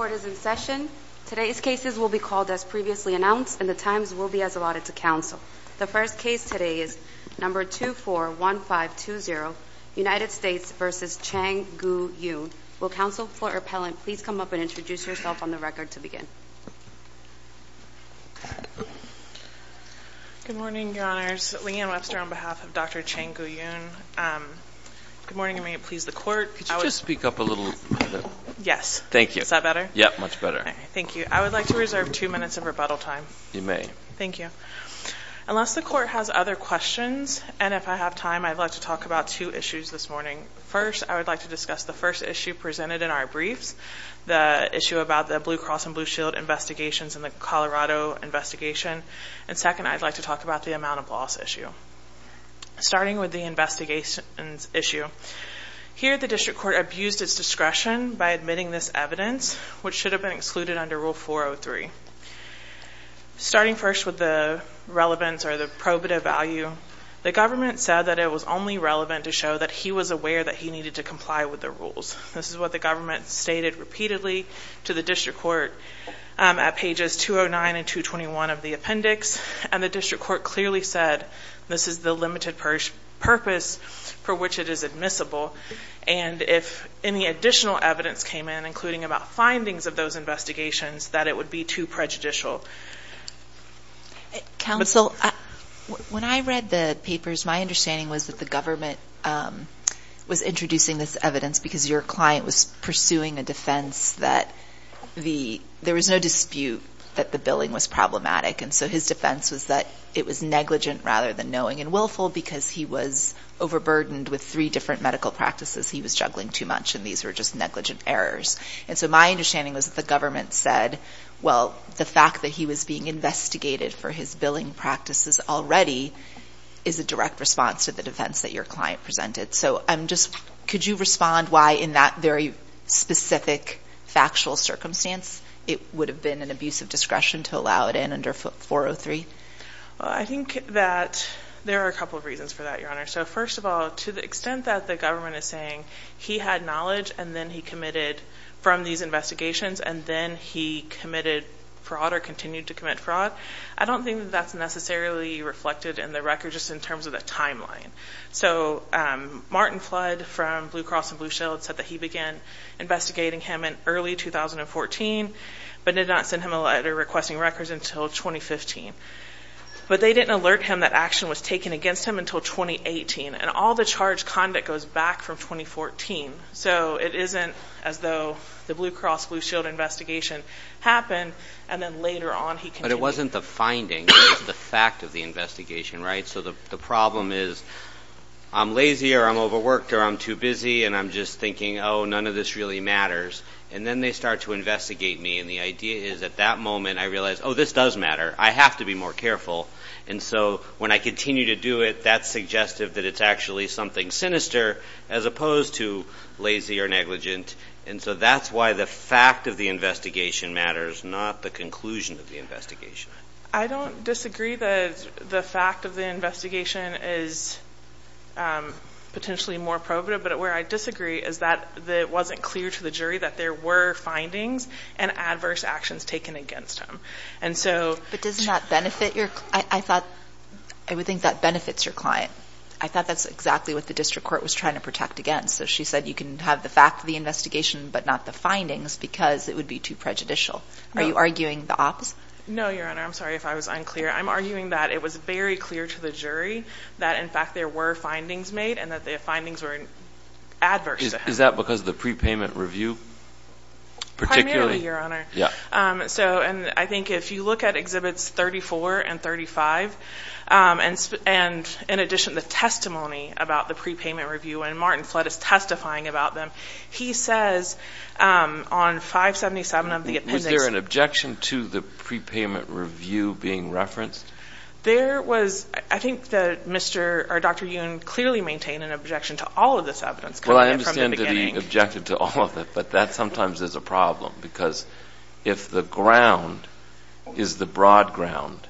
Good morning your honors, Leanne Webster on behalf of Dr. Chang-Koo Yoon, good morning and may it please the court, unless the court has other questions and if I have time I'd like to talk about two issues this morning. First I would like to discuss the first issue presented in our briefs, the issue about the Blue Cross and Blue Shield investigations in the Colorado investigation and second I'd like to talk about the amount of loss issue. Starting with the investigations issue, here the district court abused its discretion by admitting this evidence which should have been excluded under rule 403. Starting first with the relevance or the probative value, the government said that it was only relevant to show that he was aware that he needed to comply with the rules. This is what the government stated repeatedly to the district court at pages 209 and 221 of the appendix and the district court clearly said this is the limited purpose for which it is admissible and if any additional evidence came in, including about findings of those investigations, that it would be too prejudicial. Counsel, when I read the papers my understanding was that the government was introducing this evidence because your client was pursuing a defense that there was no dispute that the billing was problematic and so his defense was that it was negligent rather than knowing and willful because he was overburdened with three different medical practices, he was juggling too much and these were just negligent errors. And so my understanding was that the government said, well, the fact that he was being investigated for his billing practices already is a direct response to the defense that your client presented. So I'm just, could you respond why in that very specific factual circumstance it would have been an abuse of discretion to allow it in under 403? Well, I think that there are a couple of reasons for that, Your Honor. So first of all, to the extent that the government is saying he had knowledge and then he committed from these investigations and then he committed fraud or continued to commit fraud, I don't think that that's necessarily reflected in the record just in terms of the timeline. So Martin Flood from Blue Cross and Blue Shield said that he began investigating him in early 2014 but did not send him a letter requesting records until 2015. But they didn't alert him that action was taken against him until 2018 and all the charge conduct goes back from 2014. So it isn't as though the Blue Cross Blue Shield investigation happened and then later on he continued. But it wasn't the finding, it was the fact of the investigation, right? So the problem is I'm lazy or I'm overworked or I'm too busy and I'm just thinking, oh, none of this really matters. And then they start to investigate me and the idea is at that moment I realize, oh, this does matter. I have to be more careful. And so when I continue to do it, that's suggestive that it's actually something sinister as opposed to lazy or negligent. And so that's why the fact of the investigation matters, not the conclusion of the investigation. I don't disagree that the fact of the investigation is potentially more probative, but where I was concerned was that it wasn't clear to the jury that there were findings and adverse actions taken against him. And so — But doesn't that benefit your — I thought — I would think that benefits your client. I thought that's exactly what the district court was trying to protect against. So she said you can have the fact of the investigation but not the findings because it would be too prejudicial. No. Are you arguing the opposite? No, Your Honor. I'm sorry if I was unclear. I'm arguing that it was very clear to the Is that because of the prepayment review particularly? Primarily, Your Honor. Yeah. So and I think if you look at Exhibits 34 and 35 and in addition the testimony about the prepayment review and Martin Flood is testifying about them, he says on 577 of the appendix — Was there an objection to the prepayment review being referenced? There was. I think that Mr. or Dr. Yoon clearly maintained an objection to all of this evidence coming in from the beginning. Well, I understand that he objected to all of it, but that sometimes is a problem because if the ground is the broad ground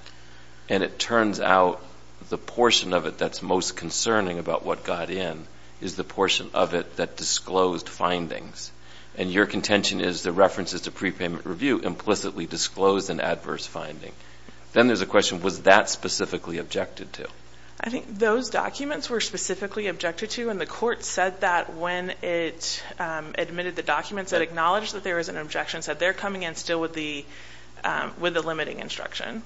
and it turns out the portion of it that's most concerning about what got in is the portion of it that disclosed findings and your contention is the references to prepayment review implicitly disclosed an adverse finding, then there's a question, was that specifically objected to? I think those documents were specifically objected to and the court said that when it admitted the documents, it acknowledged that there was an objection, said they're coming in still with the limiting instruction.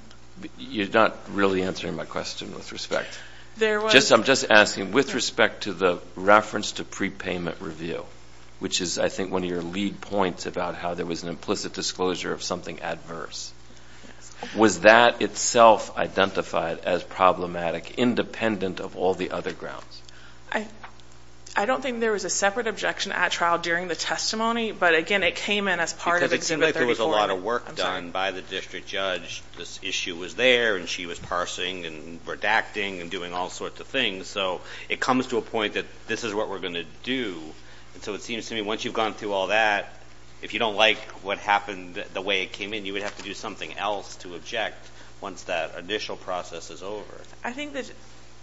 You're not really answering my question with respect. There was. I'm just asking with respect to the reference to prepayment review, which is I think one of your lead points about how there was an implicit disclosure of something adverse. Yes. Was that itself identified as problematic independent of all the other grounds? I don't think there was a separate objection at trial during the testimony, but again, it came in as part of Exhibit 34. Because it seemed like there was a lot of work done by the district judge. This issue was there and she was parsing and redacting and doing all sorts of things. So it comes to a point that this is what we're going to do. And so it seems to me once you've gone through all that, if you don't like what happened the way it came in, you would have to do something else to object once that initial process is over. I think that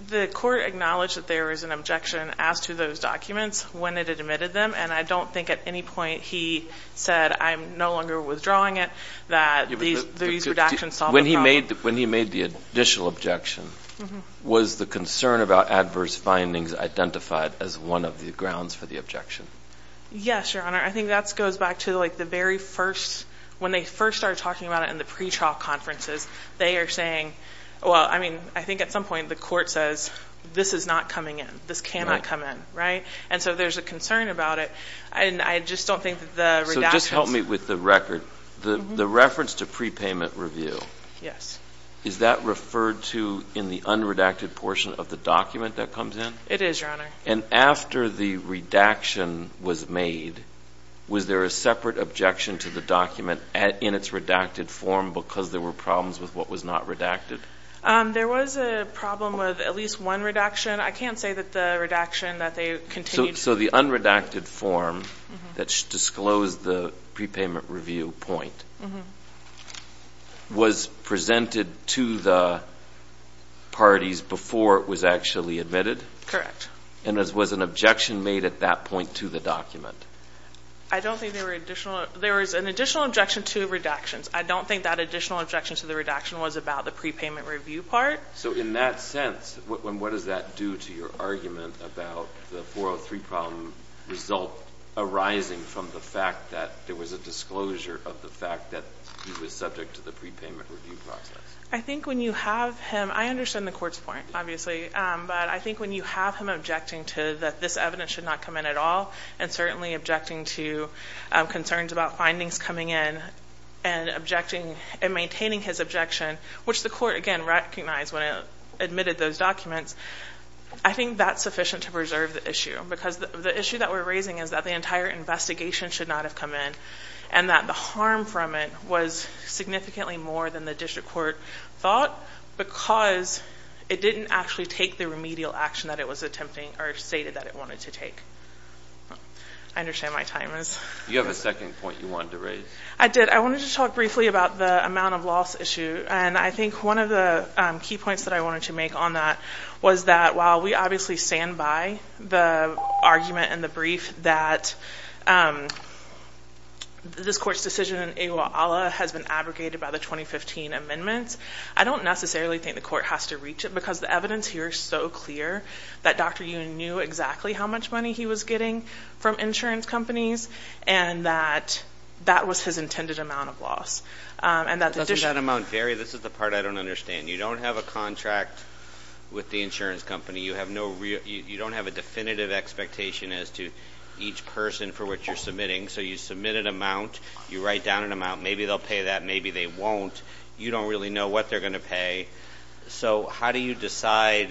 the court acknowledged that there was an objection as to those documents when it admitted them. And I don't think at any point he said, I'm no longer withdrawing it, that these redactions solved the problem. When he made the initial objection, was the concern about adverse findings identified as one of the grounds for the objection? Yes, Your Honor. I think that goes back to the very first, when they first started talking about it in the pretrial conferences, they are saying, well, I mean, I think at some point the court says, this is not coming in. This cannot come in. Right? And so there's a concern about it. And I just don't think that the redactions. So just help me with the record. The reference to prepayment review. Yes. Is that referred to in the unredacted portion of the document that comes in? It is, Your Honor. And after the redaction was made, was there a separate objection to the document in its redacted form because there were problems with what was not redacted? There was a problem with at least one redaction. I can't say that the redaction that they continued. So the unredacted form that disclosed the prepayment review point was presented to the parties before it was actually admitted? Correct. And was an objection made at that point to the document? I don't think there were additional. There was an additional objection to redactions. I don't think that additional objection to the redaction was about the prepayment review part. So in that sense, what does that do to your argument about the 403 problem result arising from the fact that there was a disclosure of the fact that he was subject to the prepayment review process? I think when you have him. I understand the court's point, obviously. But I think when you have him objecting to that this evidence should not come in at all and certainly objecting to concerns about findings coming in and objecting and maintaining his objection, which the court, again, recognized when it admitted those documents, I think that's sufficient to preserve the issue because the issue that we're raising is that the entire investigation should not have come in and that the harm from it was significantly more than the district court thought because it didn't actually take the remedial action that it was attempting or stated that it wanted to take. I understand my time is. You have a second point you wanted to raise. I did. I wanted to talk briefly about the amount of loss issue. And I think one of the key points that I wanted to make on that was that while we obviously stand by the argument and the brief that this court's decision in Iguala has been abrogated by the 2015 amendments, I don't necessarily think the court has to reach it because the evidence here is so clear that Dr. Ewing knew exactly how much money he was getting from insurance companies and that that was his intended amount of loss. Doesn't that amount vary? This is the part I don't understand. You don't have a contract with the insurance company. You don't have a definitive expectation as to each person for which you're submitting. So you submit an amount. You write down an amount. Maybe they'll pay that. Maybe they won't. You don't really know what they're going to pay. So how do you decide,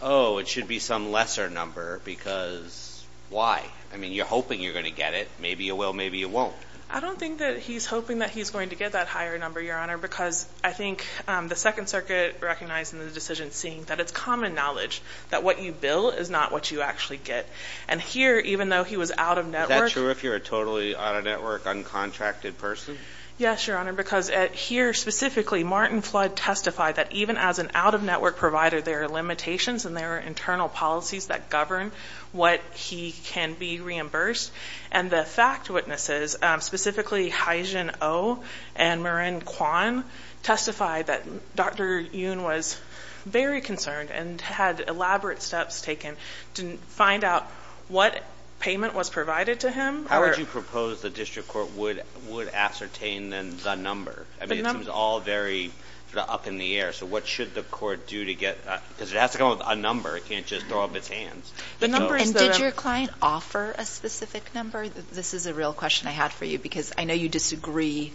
oh, it should be some lesser number because why? I mean, you're hoping you're going to get it. Maybe you will. Maybe you won't. I don't think that he's hoping that he's going to get that higher number, Your Honor, because I think the Second Circuit recognized in the decision seeing that it's common knowledge that what you bill is not what you actually get. And here, even though he was out of network. Is that true if you're a totally out of network, uncontracted person? Yes, Your Honor, because here, specifically, Martin Flood testified that even as an out-of-network provider, there are limitations and there are internal policies that govern what he can be reimbursed. And the fact witnesses, specifically Haijin Oh and Marin Kwan, testified that Dr. Yoon was very concerned and had elaborate steps taken to find out what payment was provided to him. How would you propose the district court would ascertain the number? I mean, it seems all very up in the air. So what should the court do to get, because it has to come up with a number. It can't just throw up its hands. And did your client offer a specific number? This is a real question I had for you because I know you disagree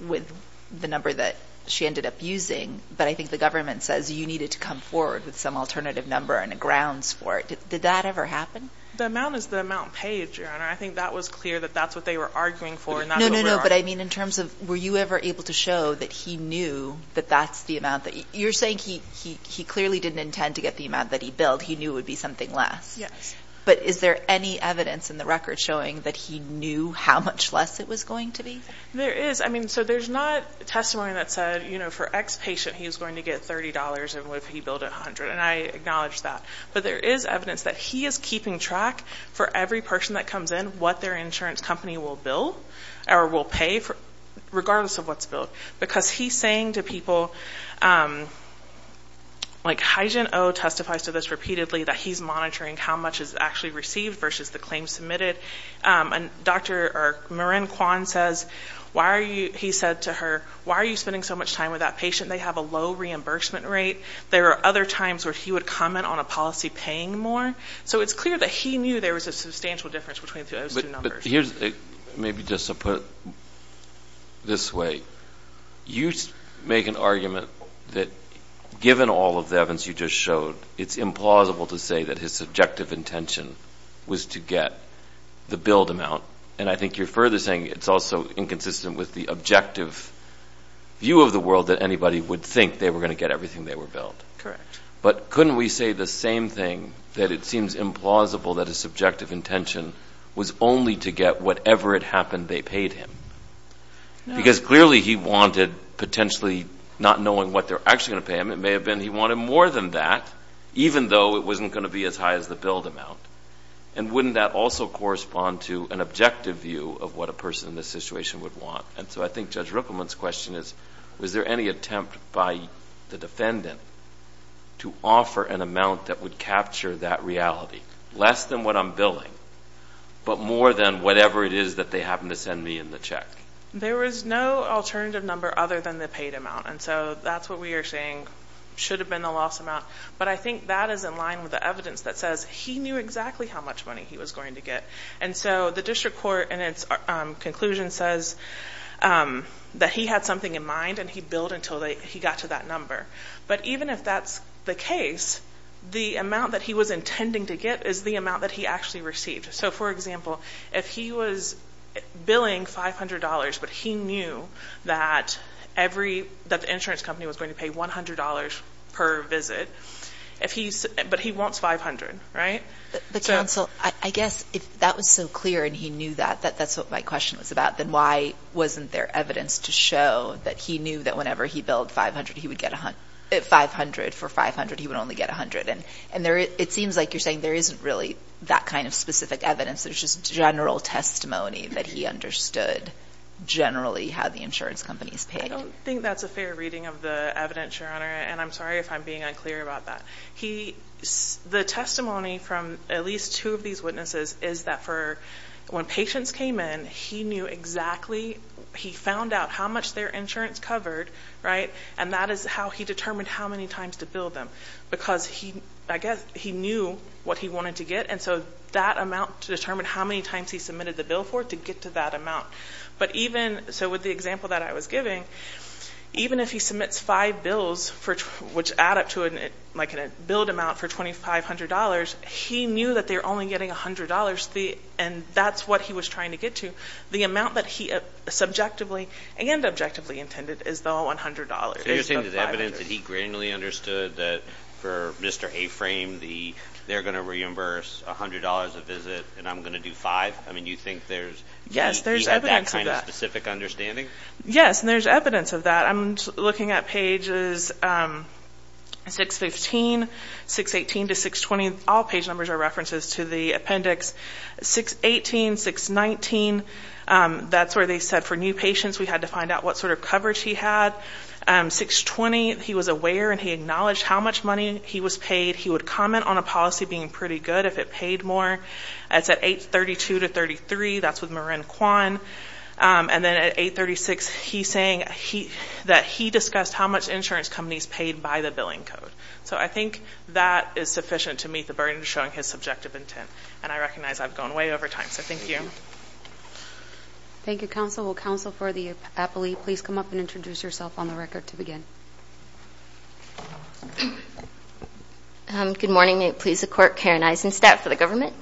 with the number that she ended up using, but I think the government says you needed to come forward with some alternative number and grounds for it. Did that ever happen? The amount is the amount paid, Your Honor. I think that was clear that that's what they were arguing for. No, no, no. But I mean, in terms of were you ever able to show that he knew that that's the amount that you're saying he clearly didn't intend to get the amount that he billed. He knew it would be something less. Yes. But is there any evidence in the record showing that he knew how much less it was going to be? There is. I mean, so there's not testimony that said, you know, for X patient, he was going to get $30 and what if he billed $100? And I acknowledge that. But there is evidence that he is keeping track for every person that comes in what their insurance company will bill or will pay for, regardless of what's billed. Because he's saying to people, like Haijin Oh testifies to this repeatedly, that he's monitoring how much is actually received versus the claims submitted. And Dr. Marin Kwan says, why are you, he said to her, why are you spending so much time with that patient? They have a low reimbursement rate. There are other times where he would comment on a policy paying more. So it's clear that he knew there was a substantial difference between those two numbers. But here's, maybe just to put it this way, you make an argument that given all of the evidence you just showed, it's implausible to say that his subjective intention was to get the billed amount. And I think you're further saying it's also inconsistent with the objective view of the bill. Correct. But couldn't we say the same thing, that it seems implausible that his subjective intention was only to get whatever it happened they paid him? No. Because clearly he wanted potentially not knowing what they're actually going to pay him. It may have been he wanted more than that, even though it wasn't going to be as high as the billed amount. And wouldn't that also correspond to an objective view of what a person in this situation would want? And so I think Judge Rippleman's question is, was there any attempt by the defendant to offer an amount that would capture that reality? Less than what I'm billing, but more than whatever it is that they happen to send me in the check. There was no alternative number other than the paid amount. And so that's what we are saying should have been the loss amount. But I think that is in line with the evidence that says he knew exactly how much money he was going to get. And so the district court in its conclusion says that he had something in mind and he billed until he got to that number. But even if that's the case, the amount that he was intending to get is the amount that he actually received. So for example, if he was billing $500 but he knew that the insurance company was going to pay $100 per visit, but he wants $500, right? But counsel, I guess if that was so clear and he knew that, that's what my question was about, then why wasn't there evidence to show that he knew that whenever he billed $500, he would get $500. For $500, he would only get $100. And it seems like you're saying there isn't really that kind of specific evidence. There's just general testimony that he understood generally how the insurance companies paid. I don't think that's a fair reading of the evidence, Your Honor. And I'm sorry if I'm being unclear about that. The testimony from at least two of these witnesses is that for when patients came in, he knew exactly, he found out how much their insurance covered, right? And that is how he determined how many times to bill them because I guess he knew what he wanted to get. And so that amount to determine how many times he submitted the bill for to get to that amount. So with the example that I was giving, even if he submits five bills, which add up to like a billed amount for $2,500, he knew that they were only getting $100. And that's what he was trying to get to. The amount that he subjectively and objectively intended is the $100. So you're saying there's evidence that he granularly understood that for Mr. A-Frame, they're going to reimburse $100 a visit and I'm going to do five? I mean, you think there's... Yes, there's evidence of that. He had that kind of specific understanding? Yes, and there's evidence of that. I'm looking at pages 615, 618 to 620. All page numbers are references to the appendix. 618, 619, that's where they said for new patients we had to find out what sort of coverage he had. 620, he was aware and he acknowledged how much money he was paid. He would comment on a policy being pretty good if it paid more. That's at 832 to 833. That's with Marin Kwan. And then at 836, he's saying that he discussed how much insurance companies paid by the billing code. So I think that is sufficient to meet the burden of showing his subjective intent. And I recognize I've gone way over time, so thank you. Thank you, counsel. Will counsel for the appellee please come up and introduce yourself on the record to begin? Good morning. May it please the Court, Karen Eisenstadt for the government.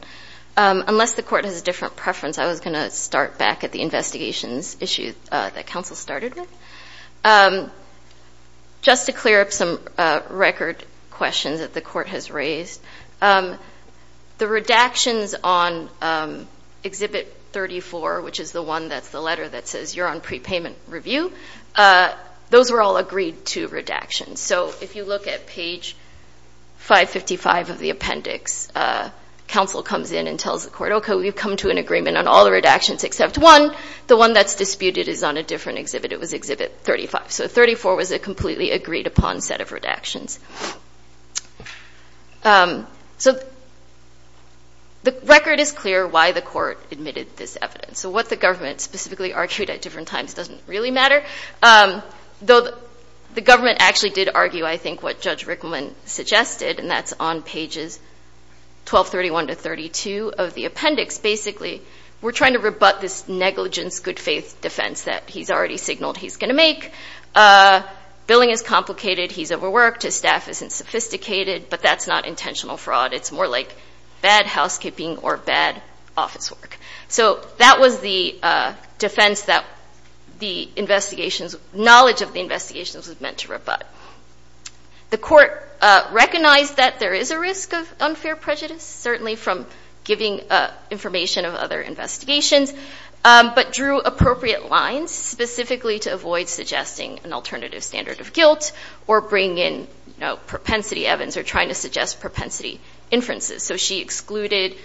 Unless the Court has a different preference, I was going to start back at the investigations issue that counsel started with. Just to clear up some record questions that the Court has raised, the redactions on Exhibit 34, which is the one that's the letter that says you're on prepayment review, those were all agreed to redactions. So if you look at page 555 of the appendix, counsel comes in and tells the Court, okay, we've come to an agreement on all the redactions except one. The one that's disputed is on a different exhibit. It was Exhibit 35. So 34 was a completely agreed-upon set of redactions. So the record is clear why the Court admitted this evidence. So what the government specifically argued at different times doesn't really matter. Though the government actually did argue, I think, what Judge Rickman suggested, and that's on pages 1231 to 1232 of the appendix. Basically, we're trying to rebut this negligence good-faith defense that he's already signaled he's going to make. Billing is complicated, he's overworked, his staff isn't sophisticated, but that's not intentional fraud. It's more like bad housekeeping or bad office work. So that was the defense that the knowledge of the investigations was meant to rebut. The Court recognized that there is a risk of unfair prejudice, certainly from giving information of other investigations, but drew appropriate lines specifically to avoid suggesting an alternative standard of guilt or bring in propensity evidence or trying to suggest propensity inferences. So she excluded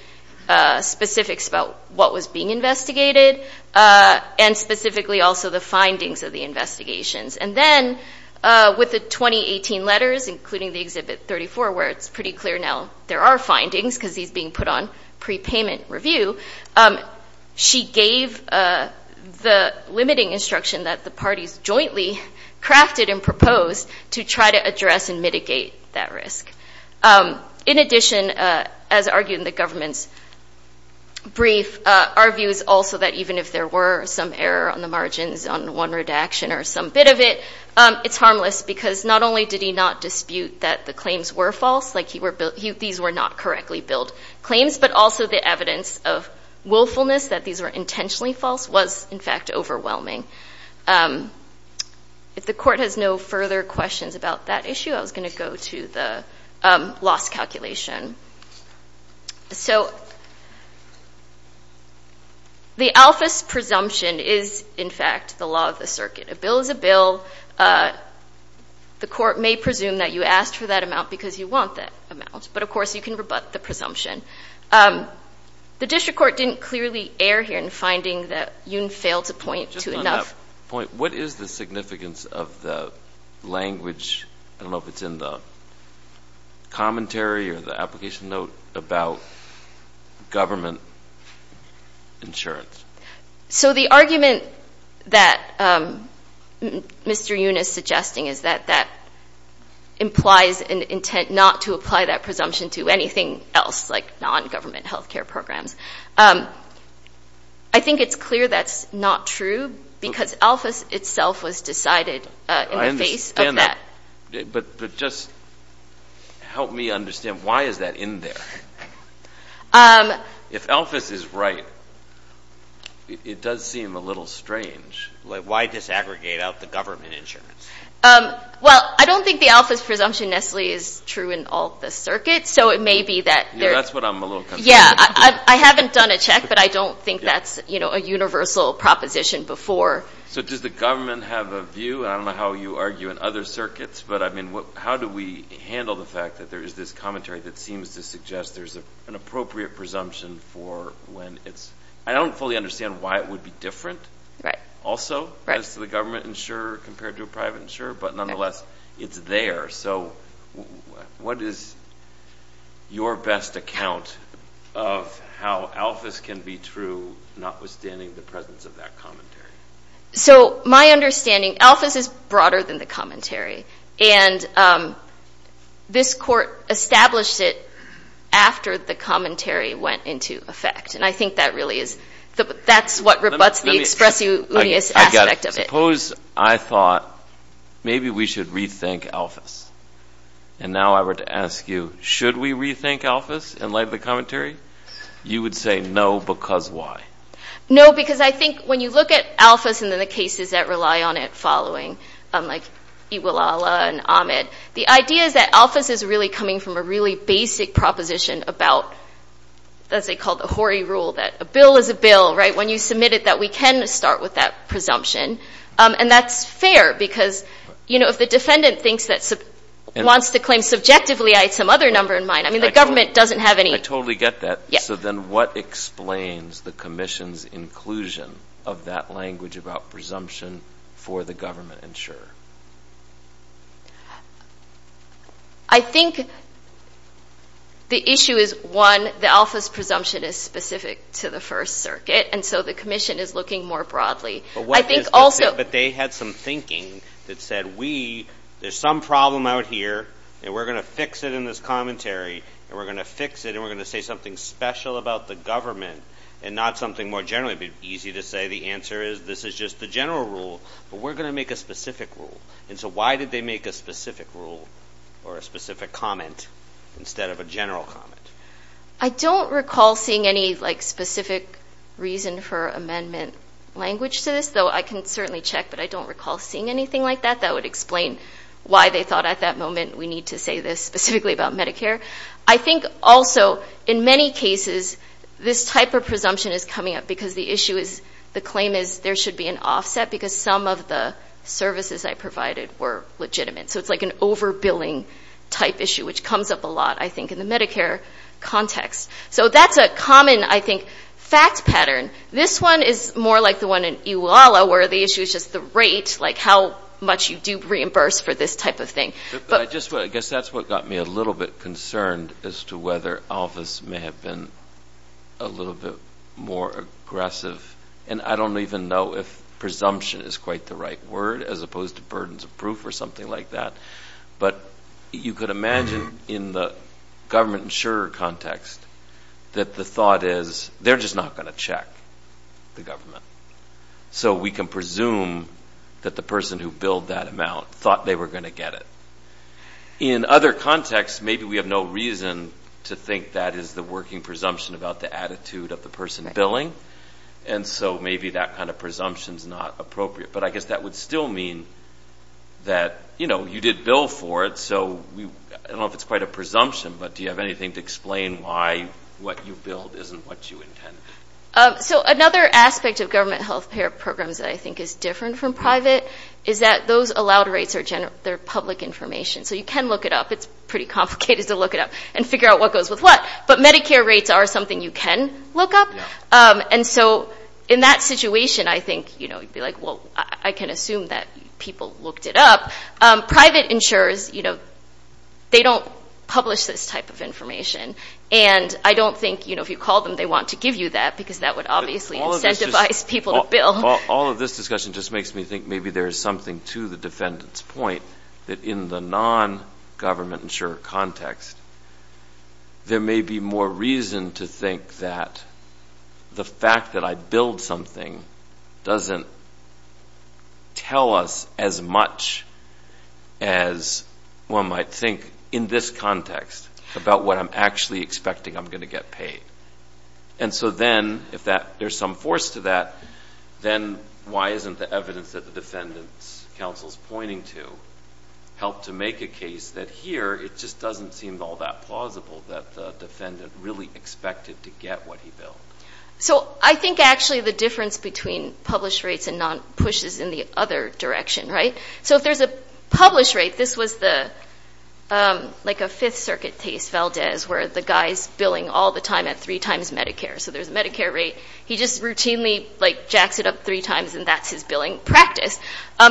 specifics about what was being investigated, and specifically also the findings of the investigations. And then with the 2018 letters, including the Exhibit 34, where it's pretty clear now there are findings because he's being put on prepayment review, she gave the limiting instruction that the parties jointly crafted and proposed to try to address and mitigate that risk. In addition, as argued in the government's brief, our view is also that even if there were some error on the margins on one redaction or some bit of it, it's harmless because not only did he not dispute that the claims were false, like these were not correctly billed claims, but also the evidence of willfulness that these were intentionally false was, in fact, overwhelming. If the court has no further questions about that issue, I was going to go to the loss calculation. The Alpha's presumption is, in fact, the law of the circuit. A bill is a bill. The court may presume that you asked for that amount because you want that amount, but, of course, you can rebut the presumption. The district court didn't clearly err here in finding that Yoon failed to point to enough. Just on that point, what is the significance of the language, I don't know if it's in the commentary or the application note, about government insurance? So the argument that Mr. Yoon is suggesting is that that implies an intent not to apply that presumption to anything else like non-government health care programs. I think it's clear that's not true because Alpha's itself was decided in the face of that. But just help me understand, why is that in there? If Alpha's is right, it does seem a little strange. Why disaggregate out the government insurance? Well, I don't think the Alpha's presumption necessarily is true in all the circuits, so it may be that there... Yeah, that's what I'm a little concerned about. Yeah, I haven't done a check, but I don't think that's a universal proposition before. So does the government have a view? I don't know how you argue in other circuits, but, I mean, how do we handle the fact that there is this commentary that seems to suggest there's an appropriate presumption for when it's... I don't fully understand why it would be different also as to the government insurer compared to a private insurer, but nonetheless, it's there. So what is your best account of how Alpha's can be true, notwithstanding the presence of that commentary? So my understanding, Alpha's is broader than the commentary, and this court established it after the commentary went into effect, and I think that really is... that's what rebutts the expressiveness aspect of it. Suppose I thought maybe we should rethink Alpha's, and now I were to ask you, should we rethink Alpha's in light of the commentary? You would say no, because why? No, because I think when you look at Alpha's and then the cases that rely on it following, like Iwilala and Ahmed, the idea is that Alpha's is really coming from a really basic proposition about, let's say, called the Horry rule, that a bill is a bill, right? So when you submitted that, we can start with that presumption, and that's fair because if the defendant wants to claim subjectively, I had some other number in mind. I mean, the government doesn't have any... I totally get that. So then what explains the commission's inclusion of that language about presumption for the government insurer? I think the issue is, one, that Alpha's presumption is specific to the First Circuit, and so the commission is looking more broadly. I think also... But they had some thinking that said, there's some problem out here, and we're going to fix it in this commentary, and we're going to fix it, and we're going to say something special about the government and not something more generally easy to say. The answer is, this is just the general rule, but we're going to make a specific rule. And so why did they make a specific rule or a specific comment instead of a general comment? I don't recall seeing any specific reason for amendment language to this, though I can certainly check, but I don't recall seeing anything like that that would explain why they thought at that moment we need to say this specifically about Medicare. I think also, in many cases, this type of presumption is coming up because the claim is there should be an offset because some of the services I provided were legitimate. So it's like an over-billing type issue, which comes up a lot, I think, in the Medicare context. So that's a common, I think, fact pattern. This one is more like the one in EWALA where the issue is just the rate, like how much you do reimburse for this type of thing. But I guess that's what got me a little bit concerned as to whether ALFAS may have been a little bit more aggressive, and I don't even know if presumption is quite the right word as opposed to burdens of proof or something like that. But you could imagine in the government insurer context that the thought is they're just not going to check the government. So we can presume that the person who billed that amount thought they were going to get it. In other contexts, maybe we have no reason to think that is the working presumption about the attitude of the person billing, and so maybe that kind of presumption is not appropriate. But I guess that would still mean that you did bill for it, so I don't know if it's quite a presumption, but do you have anything to explain why what you billed isn't what you intended? So another aspect of government health care programs that I think is different from private is that those allowed rates are public information, so you can look it up. It's pretty complicated to look it up and figure out what goes with what. But Medicare rates are something you can look up. And so in that situation, I think you'd be like, well, I can assume that people looked it up. Private insurers, they don't publish this type of information, and I don't think if you call them they want to give you that because that would obviously incentivize people to bill. All of this discussion just makes me think maybe there is something to the defendant's point that in the non-government insurer context, there may be more reason to think that the fact that I billed something doesn't tell us as much as one might think in this context about what I'm actually expecting I'm going to get paid. And so then if there's some force to that, then why isn't the evidence that the defendant's counsel is pointing to help to make a case that here it just doesn't seem all that plausible that the defendant really expected to get what he billed? So I think actually the difference between published rates and non-pushes is in the other direction, right? So if there's a published rate, this was like a Fifth Circuit case, Valdez, where the guy's billing all the time at three times Medicare. So there's a Medicare rate. He just routinely jacks it up three times, and that's his billing practice.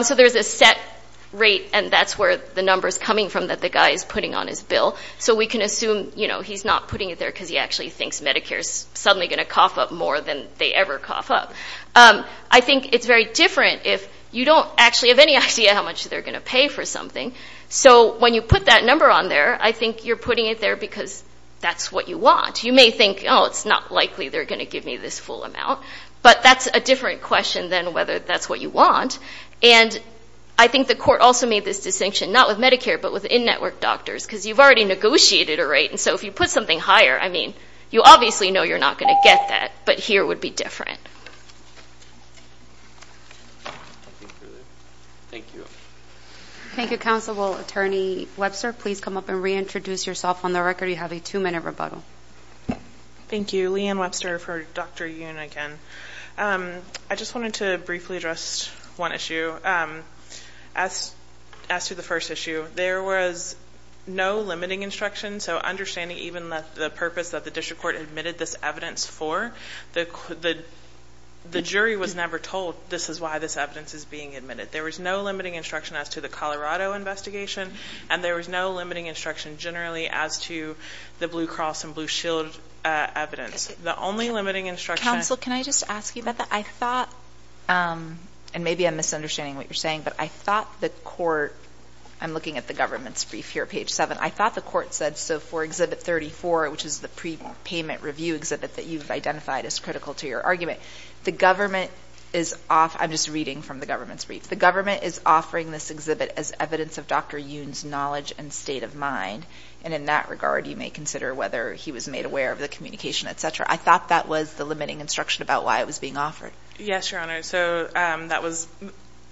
So there's a set rate, and that's where the number is coming from that the guy is putting on his bill. So we can assume he's not putting it there because he actually thinks Medicare is suddenly going to cough up more than they ever cough up. I think it's very different if you don't actually have any idea how much they're going to pay for something. So when you put that number on there, I think you're putting it there because that's what you want. You may think, oh, it's not likely they're going to give me this full amount, but that's a different question than whether that's what you want. And I think the court also made this distinction, not with Medicare but with in-network doctors, because you've already negotiated a rate, and so if you put something higher, I mean, you obviously know you're not going to get that, but here it would be different. Thank you. Thank you, Counsel. Well, Attorney Webster, please come up and reintroduce yourself on the record. You have a two-minute rebuttal. Thank you. Leanne Webster for Dr. Uniken. I just wanted to briefly address one issue. As to the first issue, there was no limiting instruction, so understanding even the purpose that the district court admitted this evidence for, the jury was never told this is why this evidence is being admitted. There was no limiting instruction as to the Colorado investigation, and there was no limiting instruction generally as to the Blue Cross and Blue Shield evidence. The only limiting instruction – Counsel, can I just ask you about that? I thought, and maybe I'm misunderstanding what you're saying, but I thought the court – I'm looking at the government's brief here, page 7. I thought the court said so for Exhibit 34, which is the prepayment review exhibit that you've identified as critical to your argument. The government is – I'm just reading from the government's brief. The government is offering this exhibit as evidence of Dr. Yoon's knowledge and state of mind, and in that regard you may consider whether he was made aware of the communication, et cetera. I thought that was the limiting instruction about why it was being offered. Yes, Your Honor. So that was –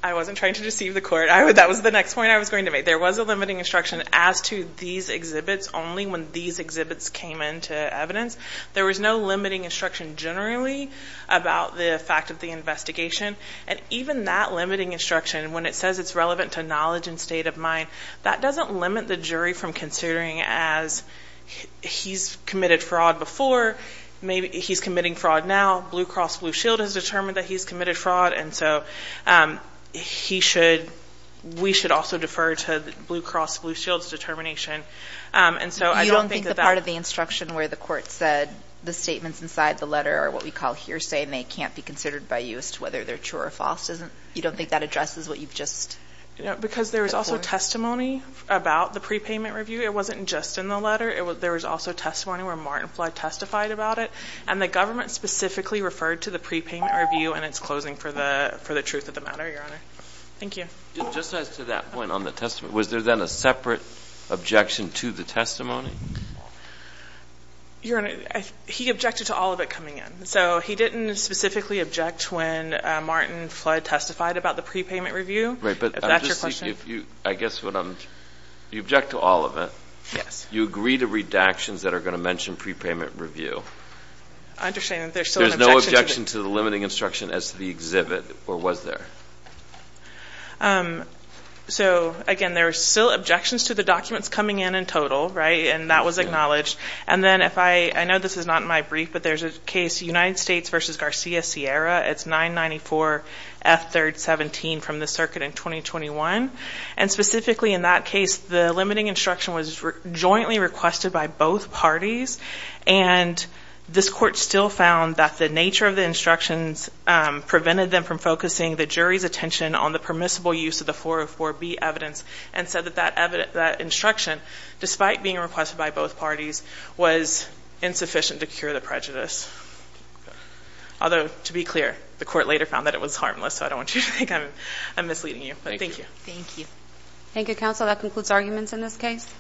I wasn't trying to deceive the court. That was the next point I was going to make. There was a limiting instruction as to these exhibits, only when these exhibits came into evidence. There was no limiting instruction generally about the fact of the investigation, and even that limiting instruction, when it says it's relevant to knowledge and state of mind, that doesn't limit the jury from considering as he's committed fraud before, maybe he's committing fraud now, Blue Cross Blue Shield has determined that he's committed fraud, and so he should – we should also defer to Blue Cross Blue Shield's determination. And so I don't think that that – You don't think the part of the instruction where the court said the statements inside the letter are what we call hearsay and they can't be considered by you as to whether they're true or false? You don't think that addresses what you've just reported? Because there was also testimony about the prepayment review. It wasn't just in the letter. There was also testimony where Martin Flood testified about it, and the government specifically referred to the prepayment review and its closing for the truth of the matter, Your Honor. Thank you. Just as to that point on the testimony, was there then a separate objection to the testimony? Your Honor, he objected to all of it coming in. So he didn't specifically object when Martin Flood testified about the prepayment review, if that's your question. Right, but I guess what I'm – you object to all of it. Yes. You agree to redactions that are going to mention prepayment review. I understand that there's still an objection to the – There's no objection to the limiting instruction as to the exhibit, or was there? So, again, there are still objections to the documents coming in in total, right, and that was acknowledged. And then if I – I know this is not in my brief, but there's a case, United States v. Garcia Sierra. It's 994F317 from the circuit in 2021. And specifically in that case, the limiting instruction was jointly requested by both parties, and this court still found that the nature of the instructions prevented them from focusing the jury's attention on the permissible use of the 404B evidence and said that that instruction, despite being requested by both parties, was insufficient to cure the prejudice. Although, to be clear, the court later found that it was harmless, so I don't want you to think I'm misleading you, but thank you. Thank you. Thank you, counsel. That concludes arguments in this case.